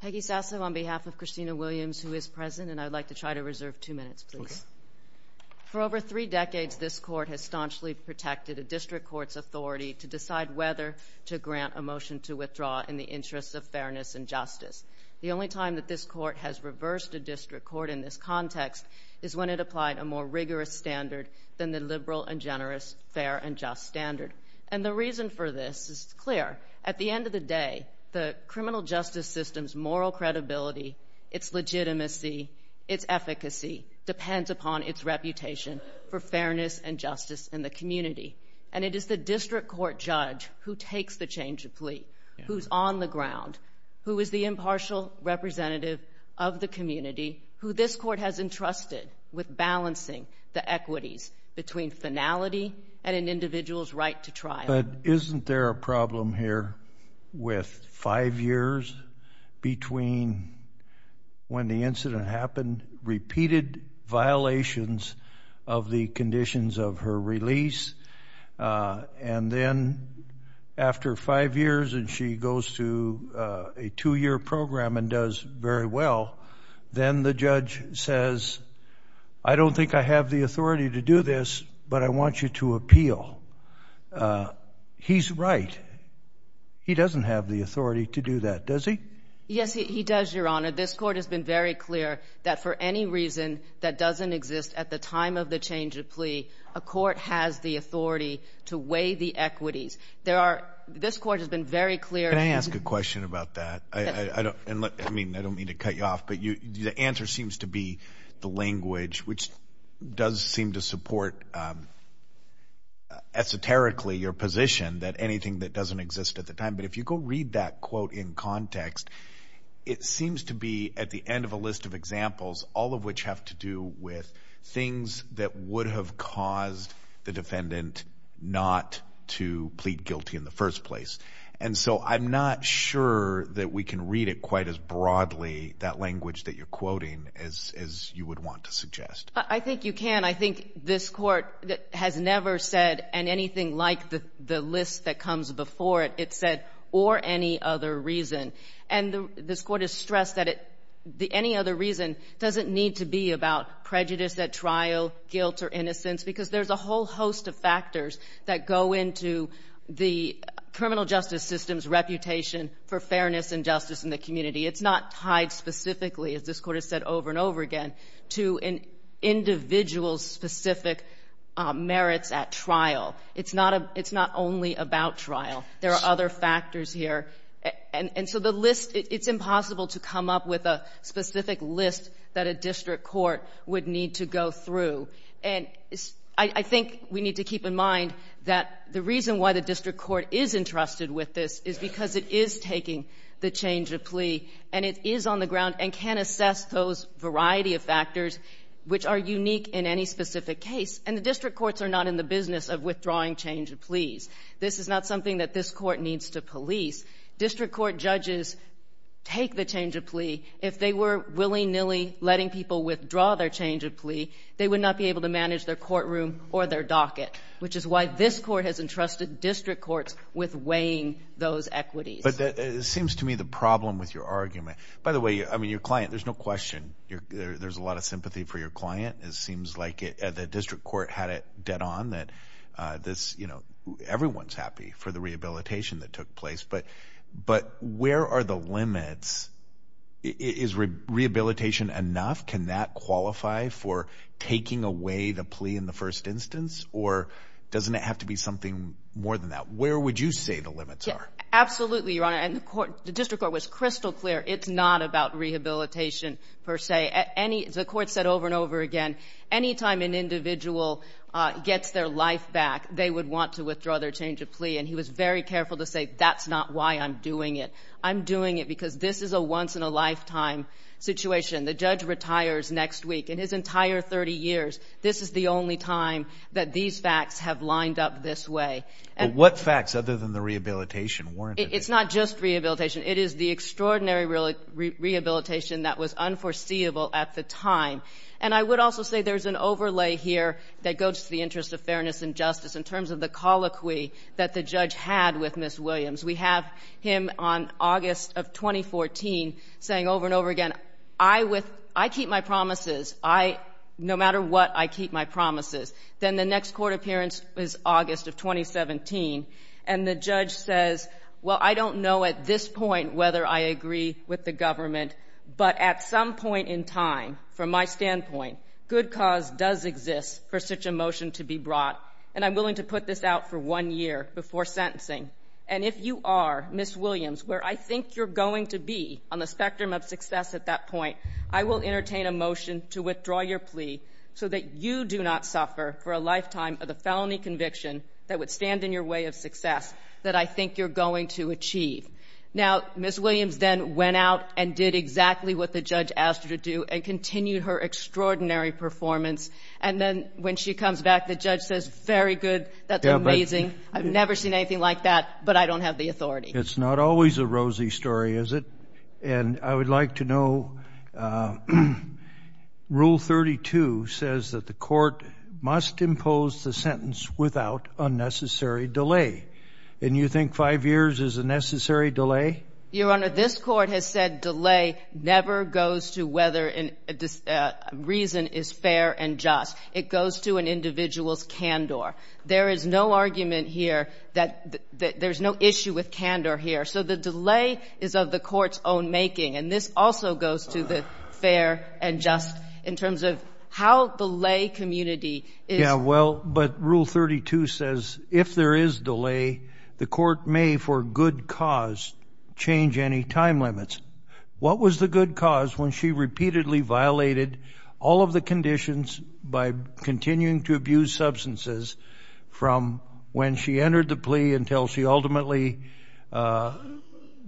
Peggy Sasso on behalf of Christina Williams, who is present, and I'd like to try to reserve two minutes, please. For over three decades, this Court has staunchly protected a district court's authority to decide whether to grant a motion to withdraw in the interest of fairness and justice. The only time that this Court has reversed a district court in this context is when it applied a more rigorous standard than the liberal and generous fair and just standard. And the reason for this is clear. At the end of the day, the criminal justice system's moral credibility, its legitimacy, its efficacy depends upon its reputation for fairness and justice in the community. And it is the district court judge who takes the change of plea, who's on the ground, who is the impartial representative of the community, who this Court has entrusted with balancing the equities between finality and an individual's right to trial. But isn't there a problem here with five years between when the incident happened, repeated violations of the conditions of her release, and then after five years and she goes to a two-year program and does very well, then the judge says, I don't think I have the authority to do this, but I want you to appeal. He's right. He doesn't have the authority to do that, does he? Yes, he does, Your Honor. This Court has been very clear that for any reason that doesn't exist at the time of the change of plea, a court has the authority to weigh the equities. This Court has been very clear. Can I ask a question about that? I mean, I don't mean to cut you off, but the answer seems to be the language, which does seem to support esoterically your position that anything that doesn't exist at the time. But if you go read that quote in context, it seems to be at the end of a list of examples, all of which have to do with things that would have caused the defendant not to plead guilty in the first place. And so I'm not sure that we can read it quite as broadly, that language that you're quoting, as you would want to suggest. I think you can. I think this Court has never said anything like the list that comes before it. It said, or any other reason. And this Court has stressed that any other reason doesn't need to be about prejudice at trial, guilt or innocence, because there's a whole host of factors that go into the criminal justice system's reputation for fairness and justice in the community. It's not tied specifically, as this Court has said over and over again, to an individual's specific merits at trial. It's not only about trial. There are other factors here. And so the list, it's impossible to come up with a specific list that a district court would need to go through. And I think we need to keep in mind that the reason why the district court is entrusted with this is because it is taking the change of plea, and it is on the ground and can assess those variety of factors which are unique in any specific case. And the district courts are not in the business of withdrawing change of pleas. This is not something that this Court needs to police. District court judges take the change of plea. If they were willy-nilly letting people withdraw their change of plea, they would not be able to manage their courtroom or their docket, which is why this Court has entrusted district courts with weighing those equities. But it seems to me the problem with your argument, by the way, I mean, your client, there's no question, there's a lot of sympathy for your client. It seems like the district court had it dead on that this, you know, everyone's happy for the rehabilitation that took place. But where are the limits? Is rehabilitation enough? Can that qualify for taking away the plea in the first instance? Or doesn't it have to be something more than that? Where would you say the limits are? Absolutely, Your Honor. And the district court was crystal clear it's not about rehabilitation per se. The court said over and over again any time an individual gets their life back, they would want to withdraw their change of plea. And he was very careful to say that's not why I'm doing it. I'm doing it because this is a once-in-a-lifetime situation. The judge retires next week. In his entire 30 years, this is the only time that these facts have lined up this way. But what facts other than the rehabilitation weren't it? It's not just rehabilitation. It is the extraordinary rehabilitation that was unforeseeable at the time. And I would also say there's an overlay here that goes to the interest of fairness and justice in terms of the colloquy that the judge had with Ms. Williams. We have him on August of 2014 saying over and over again, I keep my promises. No matter what, I keep my promises. Then the next court appearance was August of 2017, and the judge says, well, I don't know at this point whether I agree with the government. But at some point in time, from my standpoint, good cause does exist for such a motion to be brought. And I'm willing to put this out for one year before sentencing. And if you are, Ms. Williams, where I think you're going to be on the spectrum of success at that point, I will entertain a motion to withdraw your plea so that you do not suffer for a lifetime of the felony conviction that would stand in your way of success that I think you're going to achieve. Now, Ms. Williams then went out and did exactly what the judge asked her to do and continued her extraordinary performance. And then when she comes back, the judge says, very good. That's amazing. I've never seen anything like that, but I don't have the authority. It's not always a rosy story, is it? And I would like to know, Rule 32 says that the court must impose the sentence without unnecessary delay. And you think five years is a necessary delay? Your Honor, this court has said delay never goes to whether a reason is fair and just. It goes to an individual's candor. There is no argument here that there's no issue with candor here. So the delay is of the court's own making. And this also goes to the fair and just in terms of how the lay community is. Well, but Rule 32 says if there is delay, the court may for good cause change any time limits. What was the good cause when she repeatedly violated all of the conditions by continuing to abuse substances from when she entered the plea until she ultimately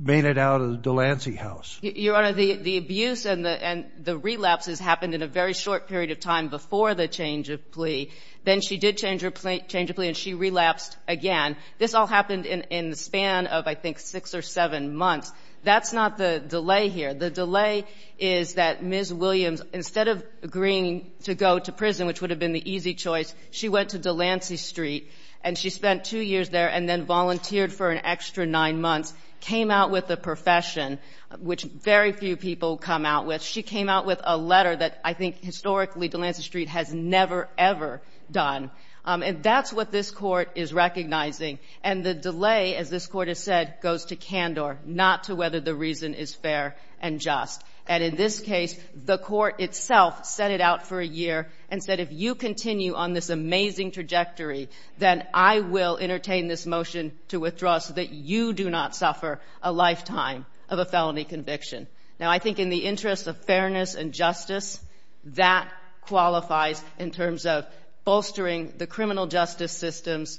made it out of the Delancey house? Your Honor, the abuse and the relapses happened in a very short period of time before the change of plea. Then she did change her plea and she relapsed again. This all happened in the span of, I think, six or seven months. That's not the delay here. The delay is that Ms. Williams, instead of agreeing to go to prison, which would have been the easy choice, she went to Delancey Street and she spent two years there and then volunteered for an extra nine months, came out with a profession, which very few people come out with. She came out with a letter that I think historically Delancey Street has never, ever done. And that's what this court is recognizing. And the delay, as this court has said, goes to candor, not to whether the reason is fair and just. And in this case, the court itself set it out for a year and said if you continue on this amazing trajectory, then I will entertain this motion to withdraw so that you do not suffer a lifetime of a felony conviction. Now, I think in the interest of fairness and justice, that qualifies in terms of bolstering the criminal justice system's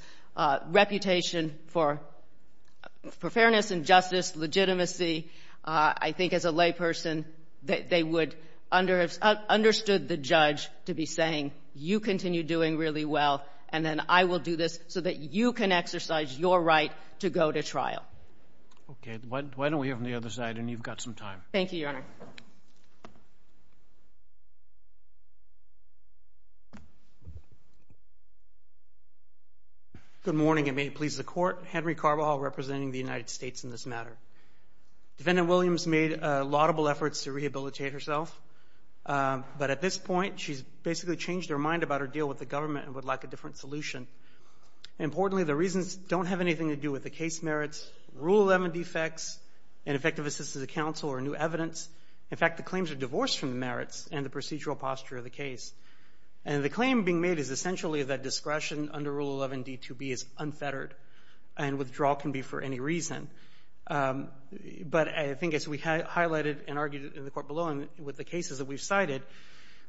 reputation for fairness and justice, legitimacy. I think as a layperson, they would have understood the judge to be saying you continue doing really well and then I will do this so that you can exercise your right to go to trial. Okay. Why don't we hear from the other side and you've got some time. Thank you, Your Honor. Good morning and may it please the Court. Henry Carbajal representing the United States in this matter. Defendant Williams made laudable efforts to rehabilitate herself, but at this point, she's basically changed her mind about her deal with the government and would like a different solution. Importantly, the reasons don't have anything to do with the case merits, Rule 11 defects, ineffective assistance of counsel or new evidence. In fact, the claims are divorced from the merits and the procedural posture of the case. And the claim being made is essentially that discretion under Rule 11 D2B is unfettered and withdrawal can be for any reason. But I think as we highlighted and argued in the court below and with the cases that we've cited,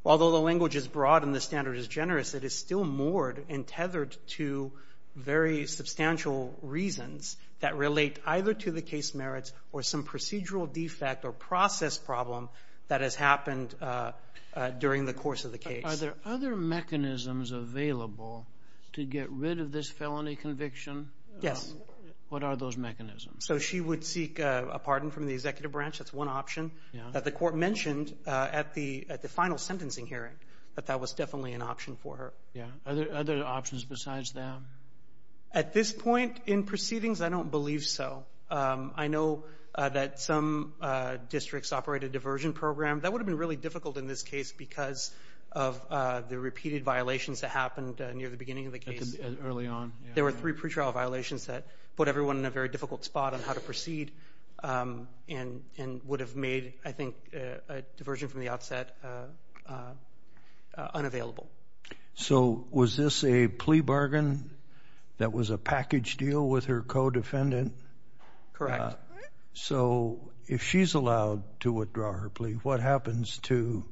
although the language is broad and the standard is generous, it is still moored and tethered to very substantial reasons that relate either to the case merits or some procedural defect or process problem that has happened during the course of the case. Are there other mechanisms available to get rid of this felony conviction? Yes. What are those mechanisms? So she would seek a pardon from the executive branch. That's one option that the court mentioned at the final sentencing hearing that that was definitely an option for her. Are there other options besides that? At this point in proceedings, I don't believe so. I know that some districts operate a diversion program. That would have been really difficult in this case because of the repeated violations that happened near the beginning of the case. Early on. There were three pretrial violations that put everyone in a very difficult spot on how to proceed and would have made, I think, a diversion from the outset unavailable. So was this a plea bargain that was a package deal with her co-defendant? Correct. So if she's allowed to withdraw her plea, what happens to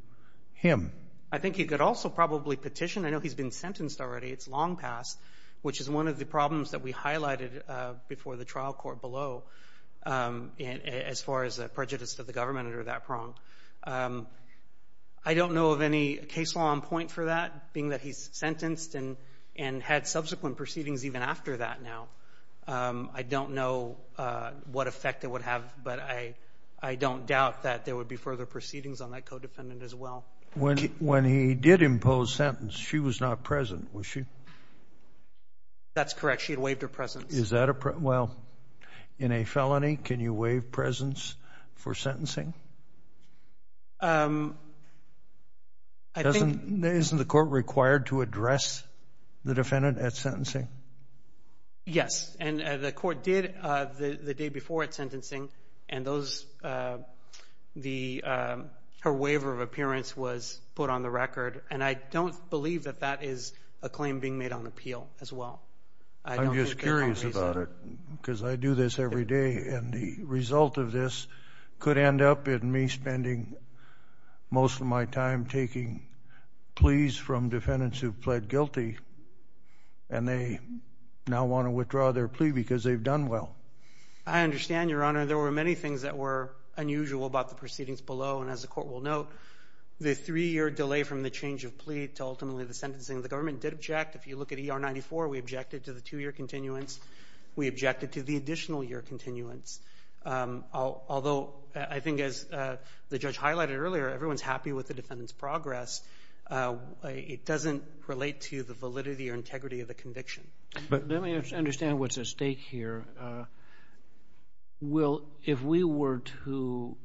him? I think he could also probably petition. I know he's been sentenced already. It's long past, which is one of the problems that we highlighted before the trial court below, as far as prejudice to the government under that prong. I don't know of any case law on point for that, being that he's sentenced and had subsequent proceedings even after that now. I don't know what effect it would have, but I don't doubt that there would be further proceedings on that co-defendant as well. When he did impose sentence, she was not present, was she? That's correct. She had waived her presence. Well, in a felony, can you waive presence for sentencing? Isn't the court required to address the defendant at sentencing? And her waiver of appearance was put on the record, and I don't believe that that is a claim being made on appeal as well. I'm just curious about it because I do this every day, and the result of this could end up in me spending most of my time taking pleas from defendants who've pled guilty, and they now want to withdraw their plea because they've done well. I understand, Your Honor. There were many things that were unusual about the proceedings below, and as the court will note, the three-year delay from the change of plea to ultimately the sentencing of the government did object. If you look at ER 94, we objected to the two-year continuance. We objected to the additional year continuance, although I think as the judge highlighted earlier, everyone's happy with the defendant's progress. It doesn't relate to the validity or integrity of the conviction. Let me understand what's at stake here. Will, if we were to,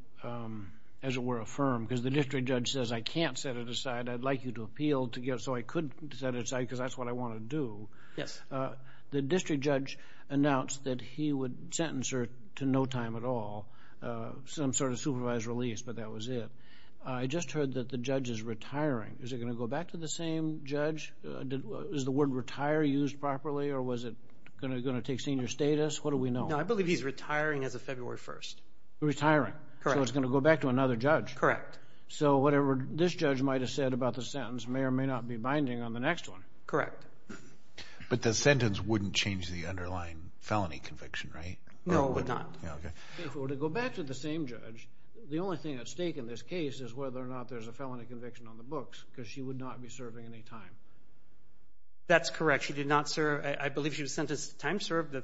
as it were, affirm, because the district judge says I can't set it aside, I'd like you to appeal so I could set it aside because that's what I want to do. Yes. The district judge announced that he would sentence her to no time at all, some sort of supervised release, but that was it. I just heard that the judge is retiring. Is it going to go back to the same judge? Is the word retire used properly, or was it going to take senior status? What do we know? No, I believe he's retiring as of February 1st. Retiring. Correct. So it's going to go back to another judge. Correct. So whatever this judge might have said about the sentence may or may not be binding on the next one. Correct. But the sentence wouldn't change the underlying felony conviction, right? No, it would not. Okay. If it were to go back to the same judge, the only thing at stake in this case is whether or not there's a felony conviction on the books because she would not be serving any time. That's correct. She did not serve. I believe she was sentenced to time served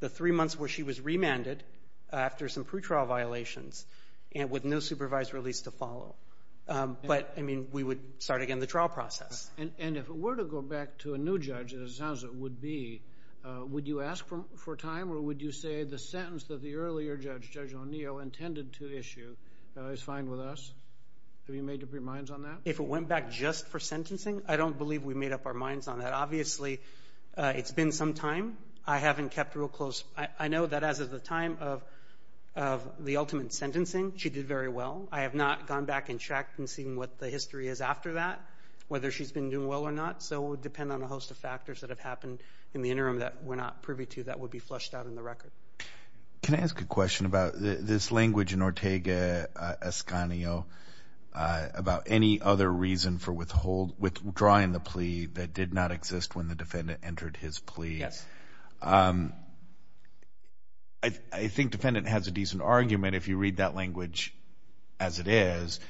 the three months where she was remanded after some pretrial violations with no supervised release to follow. But, I mean, we would start again the trial process. And if it were to go back to a new judge, as it sounds it would be, would you ask for time or would you say the sentence that the earlier judge, Judge O'Neill, intended to issue is fine with us? Have you made up your minds on that? If it went back just for sentencing, I don't believe we made up our minds on that. Obviously, it's been some time. I haven't kept real close. I know that as of the time of the ultimate sentencing, she did very well. I have not gone back and checked and seen what the history is after that, whether she's been doing well or not. So it would depend on a host of factors that have happened in the interim that we're not privy to that would be flushed out in the record. Can I ask a question about this language in Ortega-Escanio about any other reason for withdrawing the plea that did not exist when the defendant entered his plea? Yes. I think defendant has a decent argument if you read that language as it is.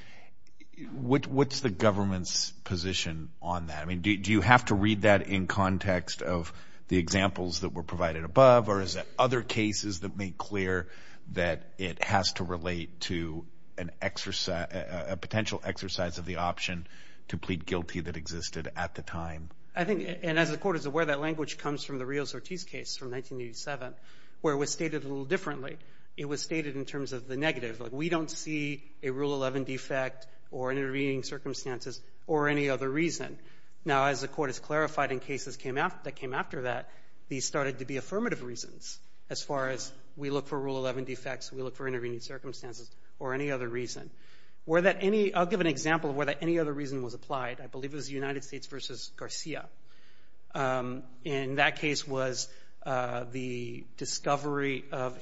What's the government's position on that? I mean, do you have to read that in context of the examples that were provided above or is it other cases that make clear that it has to relate to a potential exercise of the option to plead guilty that existed at the time? I think, and as the court is aware, that language comes from the Rios-Ortiz case from 1987 where it was stated a little differently. It was stated in terms of the negative, like we don't see a Rule 11 defect or intervening circumstances or any other reason. Now, as the court has clarified in cases that came after that, these started to be affirmative reasons as far as we look for Rule 11 defects, we look for intervening circumstances or any other reason. I'll give an example of where that any other reason was applied. I believe it was the United States v. Garcia. And that case was the discovery of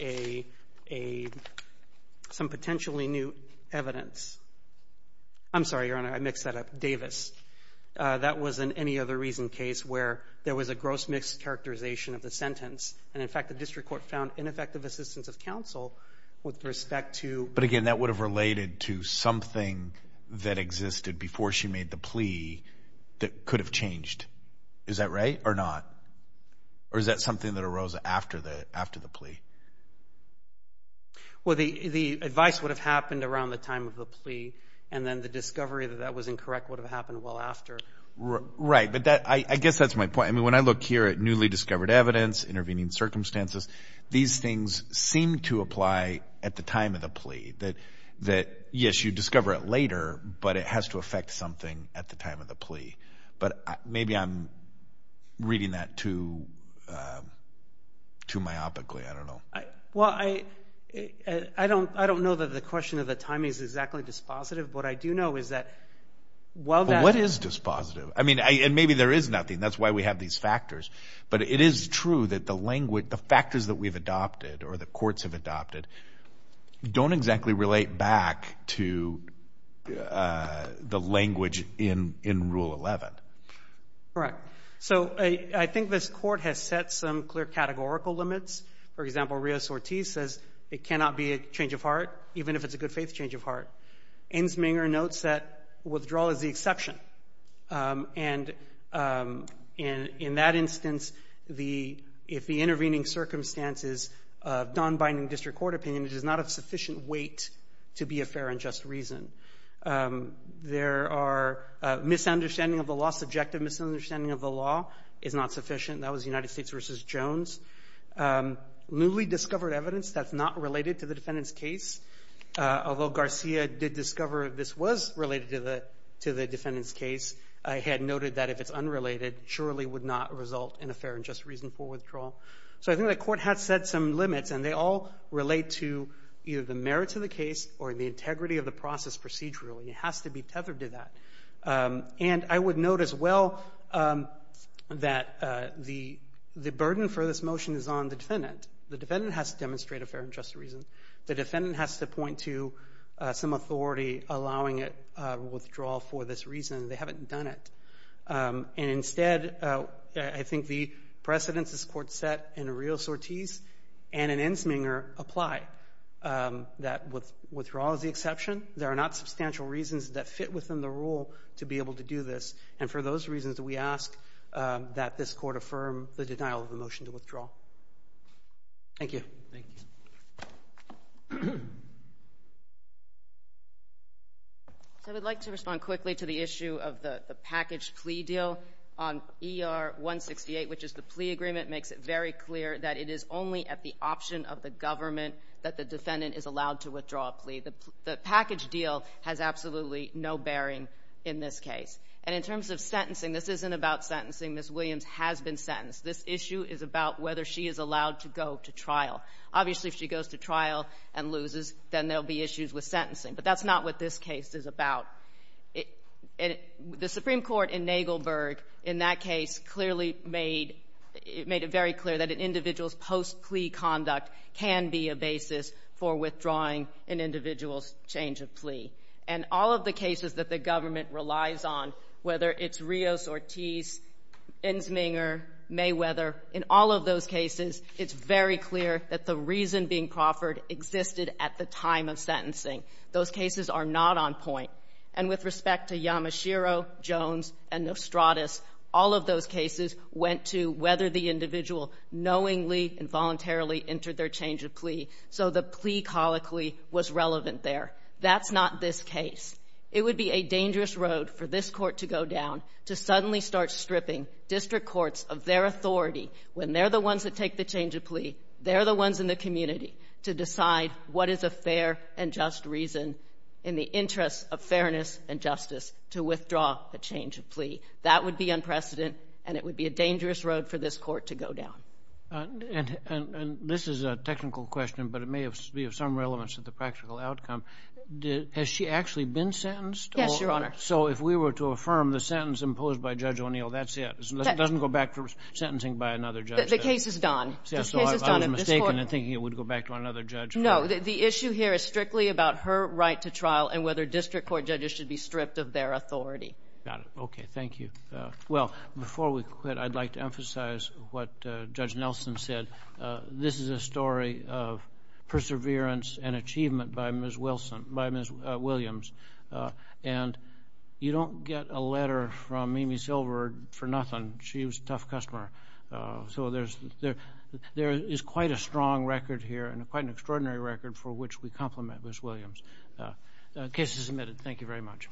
some potentially new evidence. I'm sorry, Your Honor, I mixed that up. Davis. That was an any other reason case where there was a gross mixed characterization of the sentence. And, in fact, the district court found ineffective assistance of counsel with respect to... But, again, that would have related to something that existed before she made the plea that could have changed. Is that right or not? Or is that something that arose after the plea? And then the discovery that that was incorrect would have happened well after. Right. But I guess that's my point. I mean, when I look here at newly discovered evidence, intervening circumstances, these things seem to apply at the time of the plea. That, yes, you discover it later, but it has to affect something at the time of the plea. But maybe I'm reading that too myopically. I don't know. Well, I don't know that the question of the timing is exactly dispositive. What I do know is that... What is dispositive? I mean, and maybe there is nothing. That's why we have these factors. But it is true that the factors that we've adopted or the courts have adopted don't exactly relate back to the language in Rule 11. Correct. So I think this court has set some clear categorical limits. For example, Rios-Ortiz says it cannot be a change of heart, even if it's a good faith change of heart. Insminger notes that withdrawal is the exception. And in that instance, if the intervening circumstances of non-binding district court opinion does not have sufficient weight to be a fair and just reason. There are misunderstanding of the law, subjective misunderstanding of the law is not sufficient. That was United States v. Jones. Newly discovered evidence that's not related to the defendant's case. Although Garcia did discover this was related to the defendant's case, had noted that if it's unrelated, surely would not result in a fair and just reasonable withdrawal. So I think the court has set some limits, and they all relate to either the merits of the case or the integrity of the process procedurally. It has to be tethered to that. And I would note as well that the burden for this motion is on the defendant. The defendant has to demonstrate a fair and just reason. The defendant has to point to some authority allowing a withdrawal for this reason. They haven't done it. And instead, I think the precedence this court set in Rios-Ortiz and in Insminger apply, that withdrawal is the exception. There are not substantial reasons that fit within the rule to be able to do this. And for those reasons, we ask that this court affirm the denial of the motion to withdraw. Thank you. Thank you. I would like to respond quickly to the issue of the package plea deal on ER-168, which is the plea agreement makes it very clear that it is only at the option of the government that the defendant is allowed to withdraw a plea. The package deal has absolutely no bearing in this case. And in terms of sentencing, this isn't about sentencing. Ms. Williams has been sentenced. This issue is about whether she is allowed to go to trial. Obviously, if she goes to trial and loses, then there will be issues with sentencing. But that's not what this case is about. The Supreme Court in Nagelberg in that case clearly made it very clear that an individual's change of plea. And all of the cases that the government relies on, whether it's Rios-Ortiz, Insminger, Mayweather, in all of those cases, it's very clear that the reason being proffered existed at the time of sentencing. Those cases are not on point. And with respect to Yamashiro, Jones, and Nostradus, all of those cases went to whether the individual knowingly and voluntarily entered their change of plea. So the plea colloquy was relevant there. That's not this case. It would be a dangerous road for this court to go down to suddenly start stripping district courts of their authority, when they're the ones that take the change of plea, they're the ones in the community, to decide what is a fair and just reason in the interest of fairness and justice to withdraw a change of plea. That would be unprecedented, and it would be a dangerous road for this court to go down. And this is a technical question, but it may be of some relevance to the practical outcome. Has she actually been sentenced? Yes, Your Honor. So if we were to affirm the sentence imposed by Judge O'Neill, that's it? It doesn't go back to sentencing by another judge? The case is done. So I was mistaken in thinking it would go back to another judge. No. The issue here is strictly about her right to trial and whether district court judges should be stripped of their authority. Got it. Okay. Thank you. Well, before we quit, I'd like to emphasize what Judge Nelson said. This is a story of perseverance and achievement by Ms. Williams, and you don't get a letter from Amy Silver for nothing. She was a tough customer. So there is quite a strong record here and quite an extraordinary record for which we compliment Ms. Williams. The case is submitted. Thank you very much.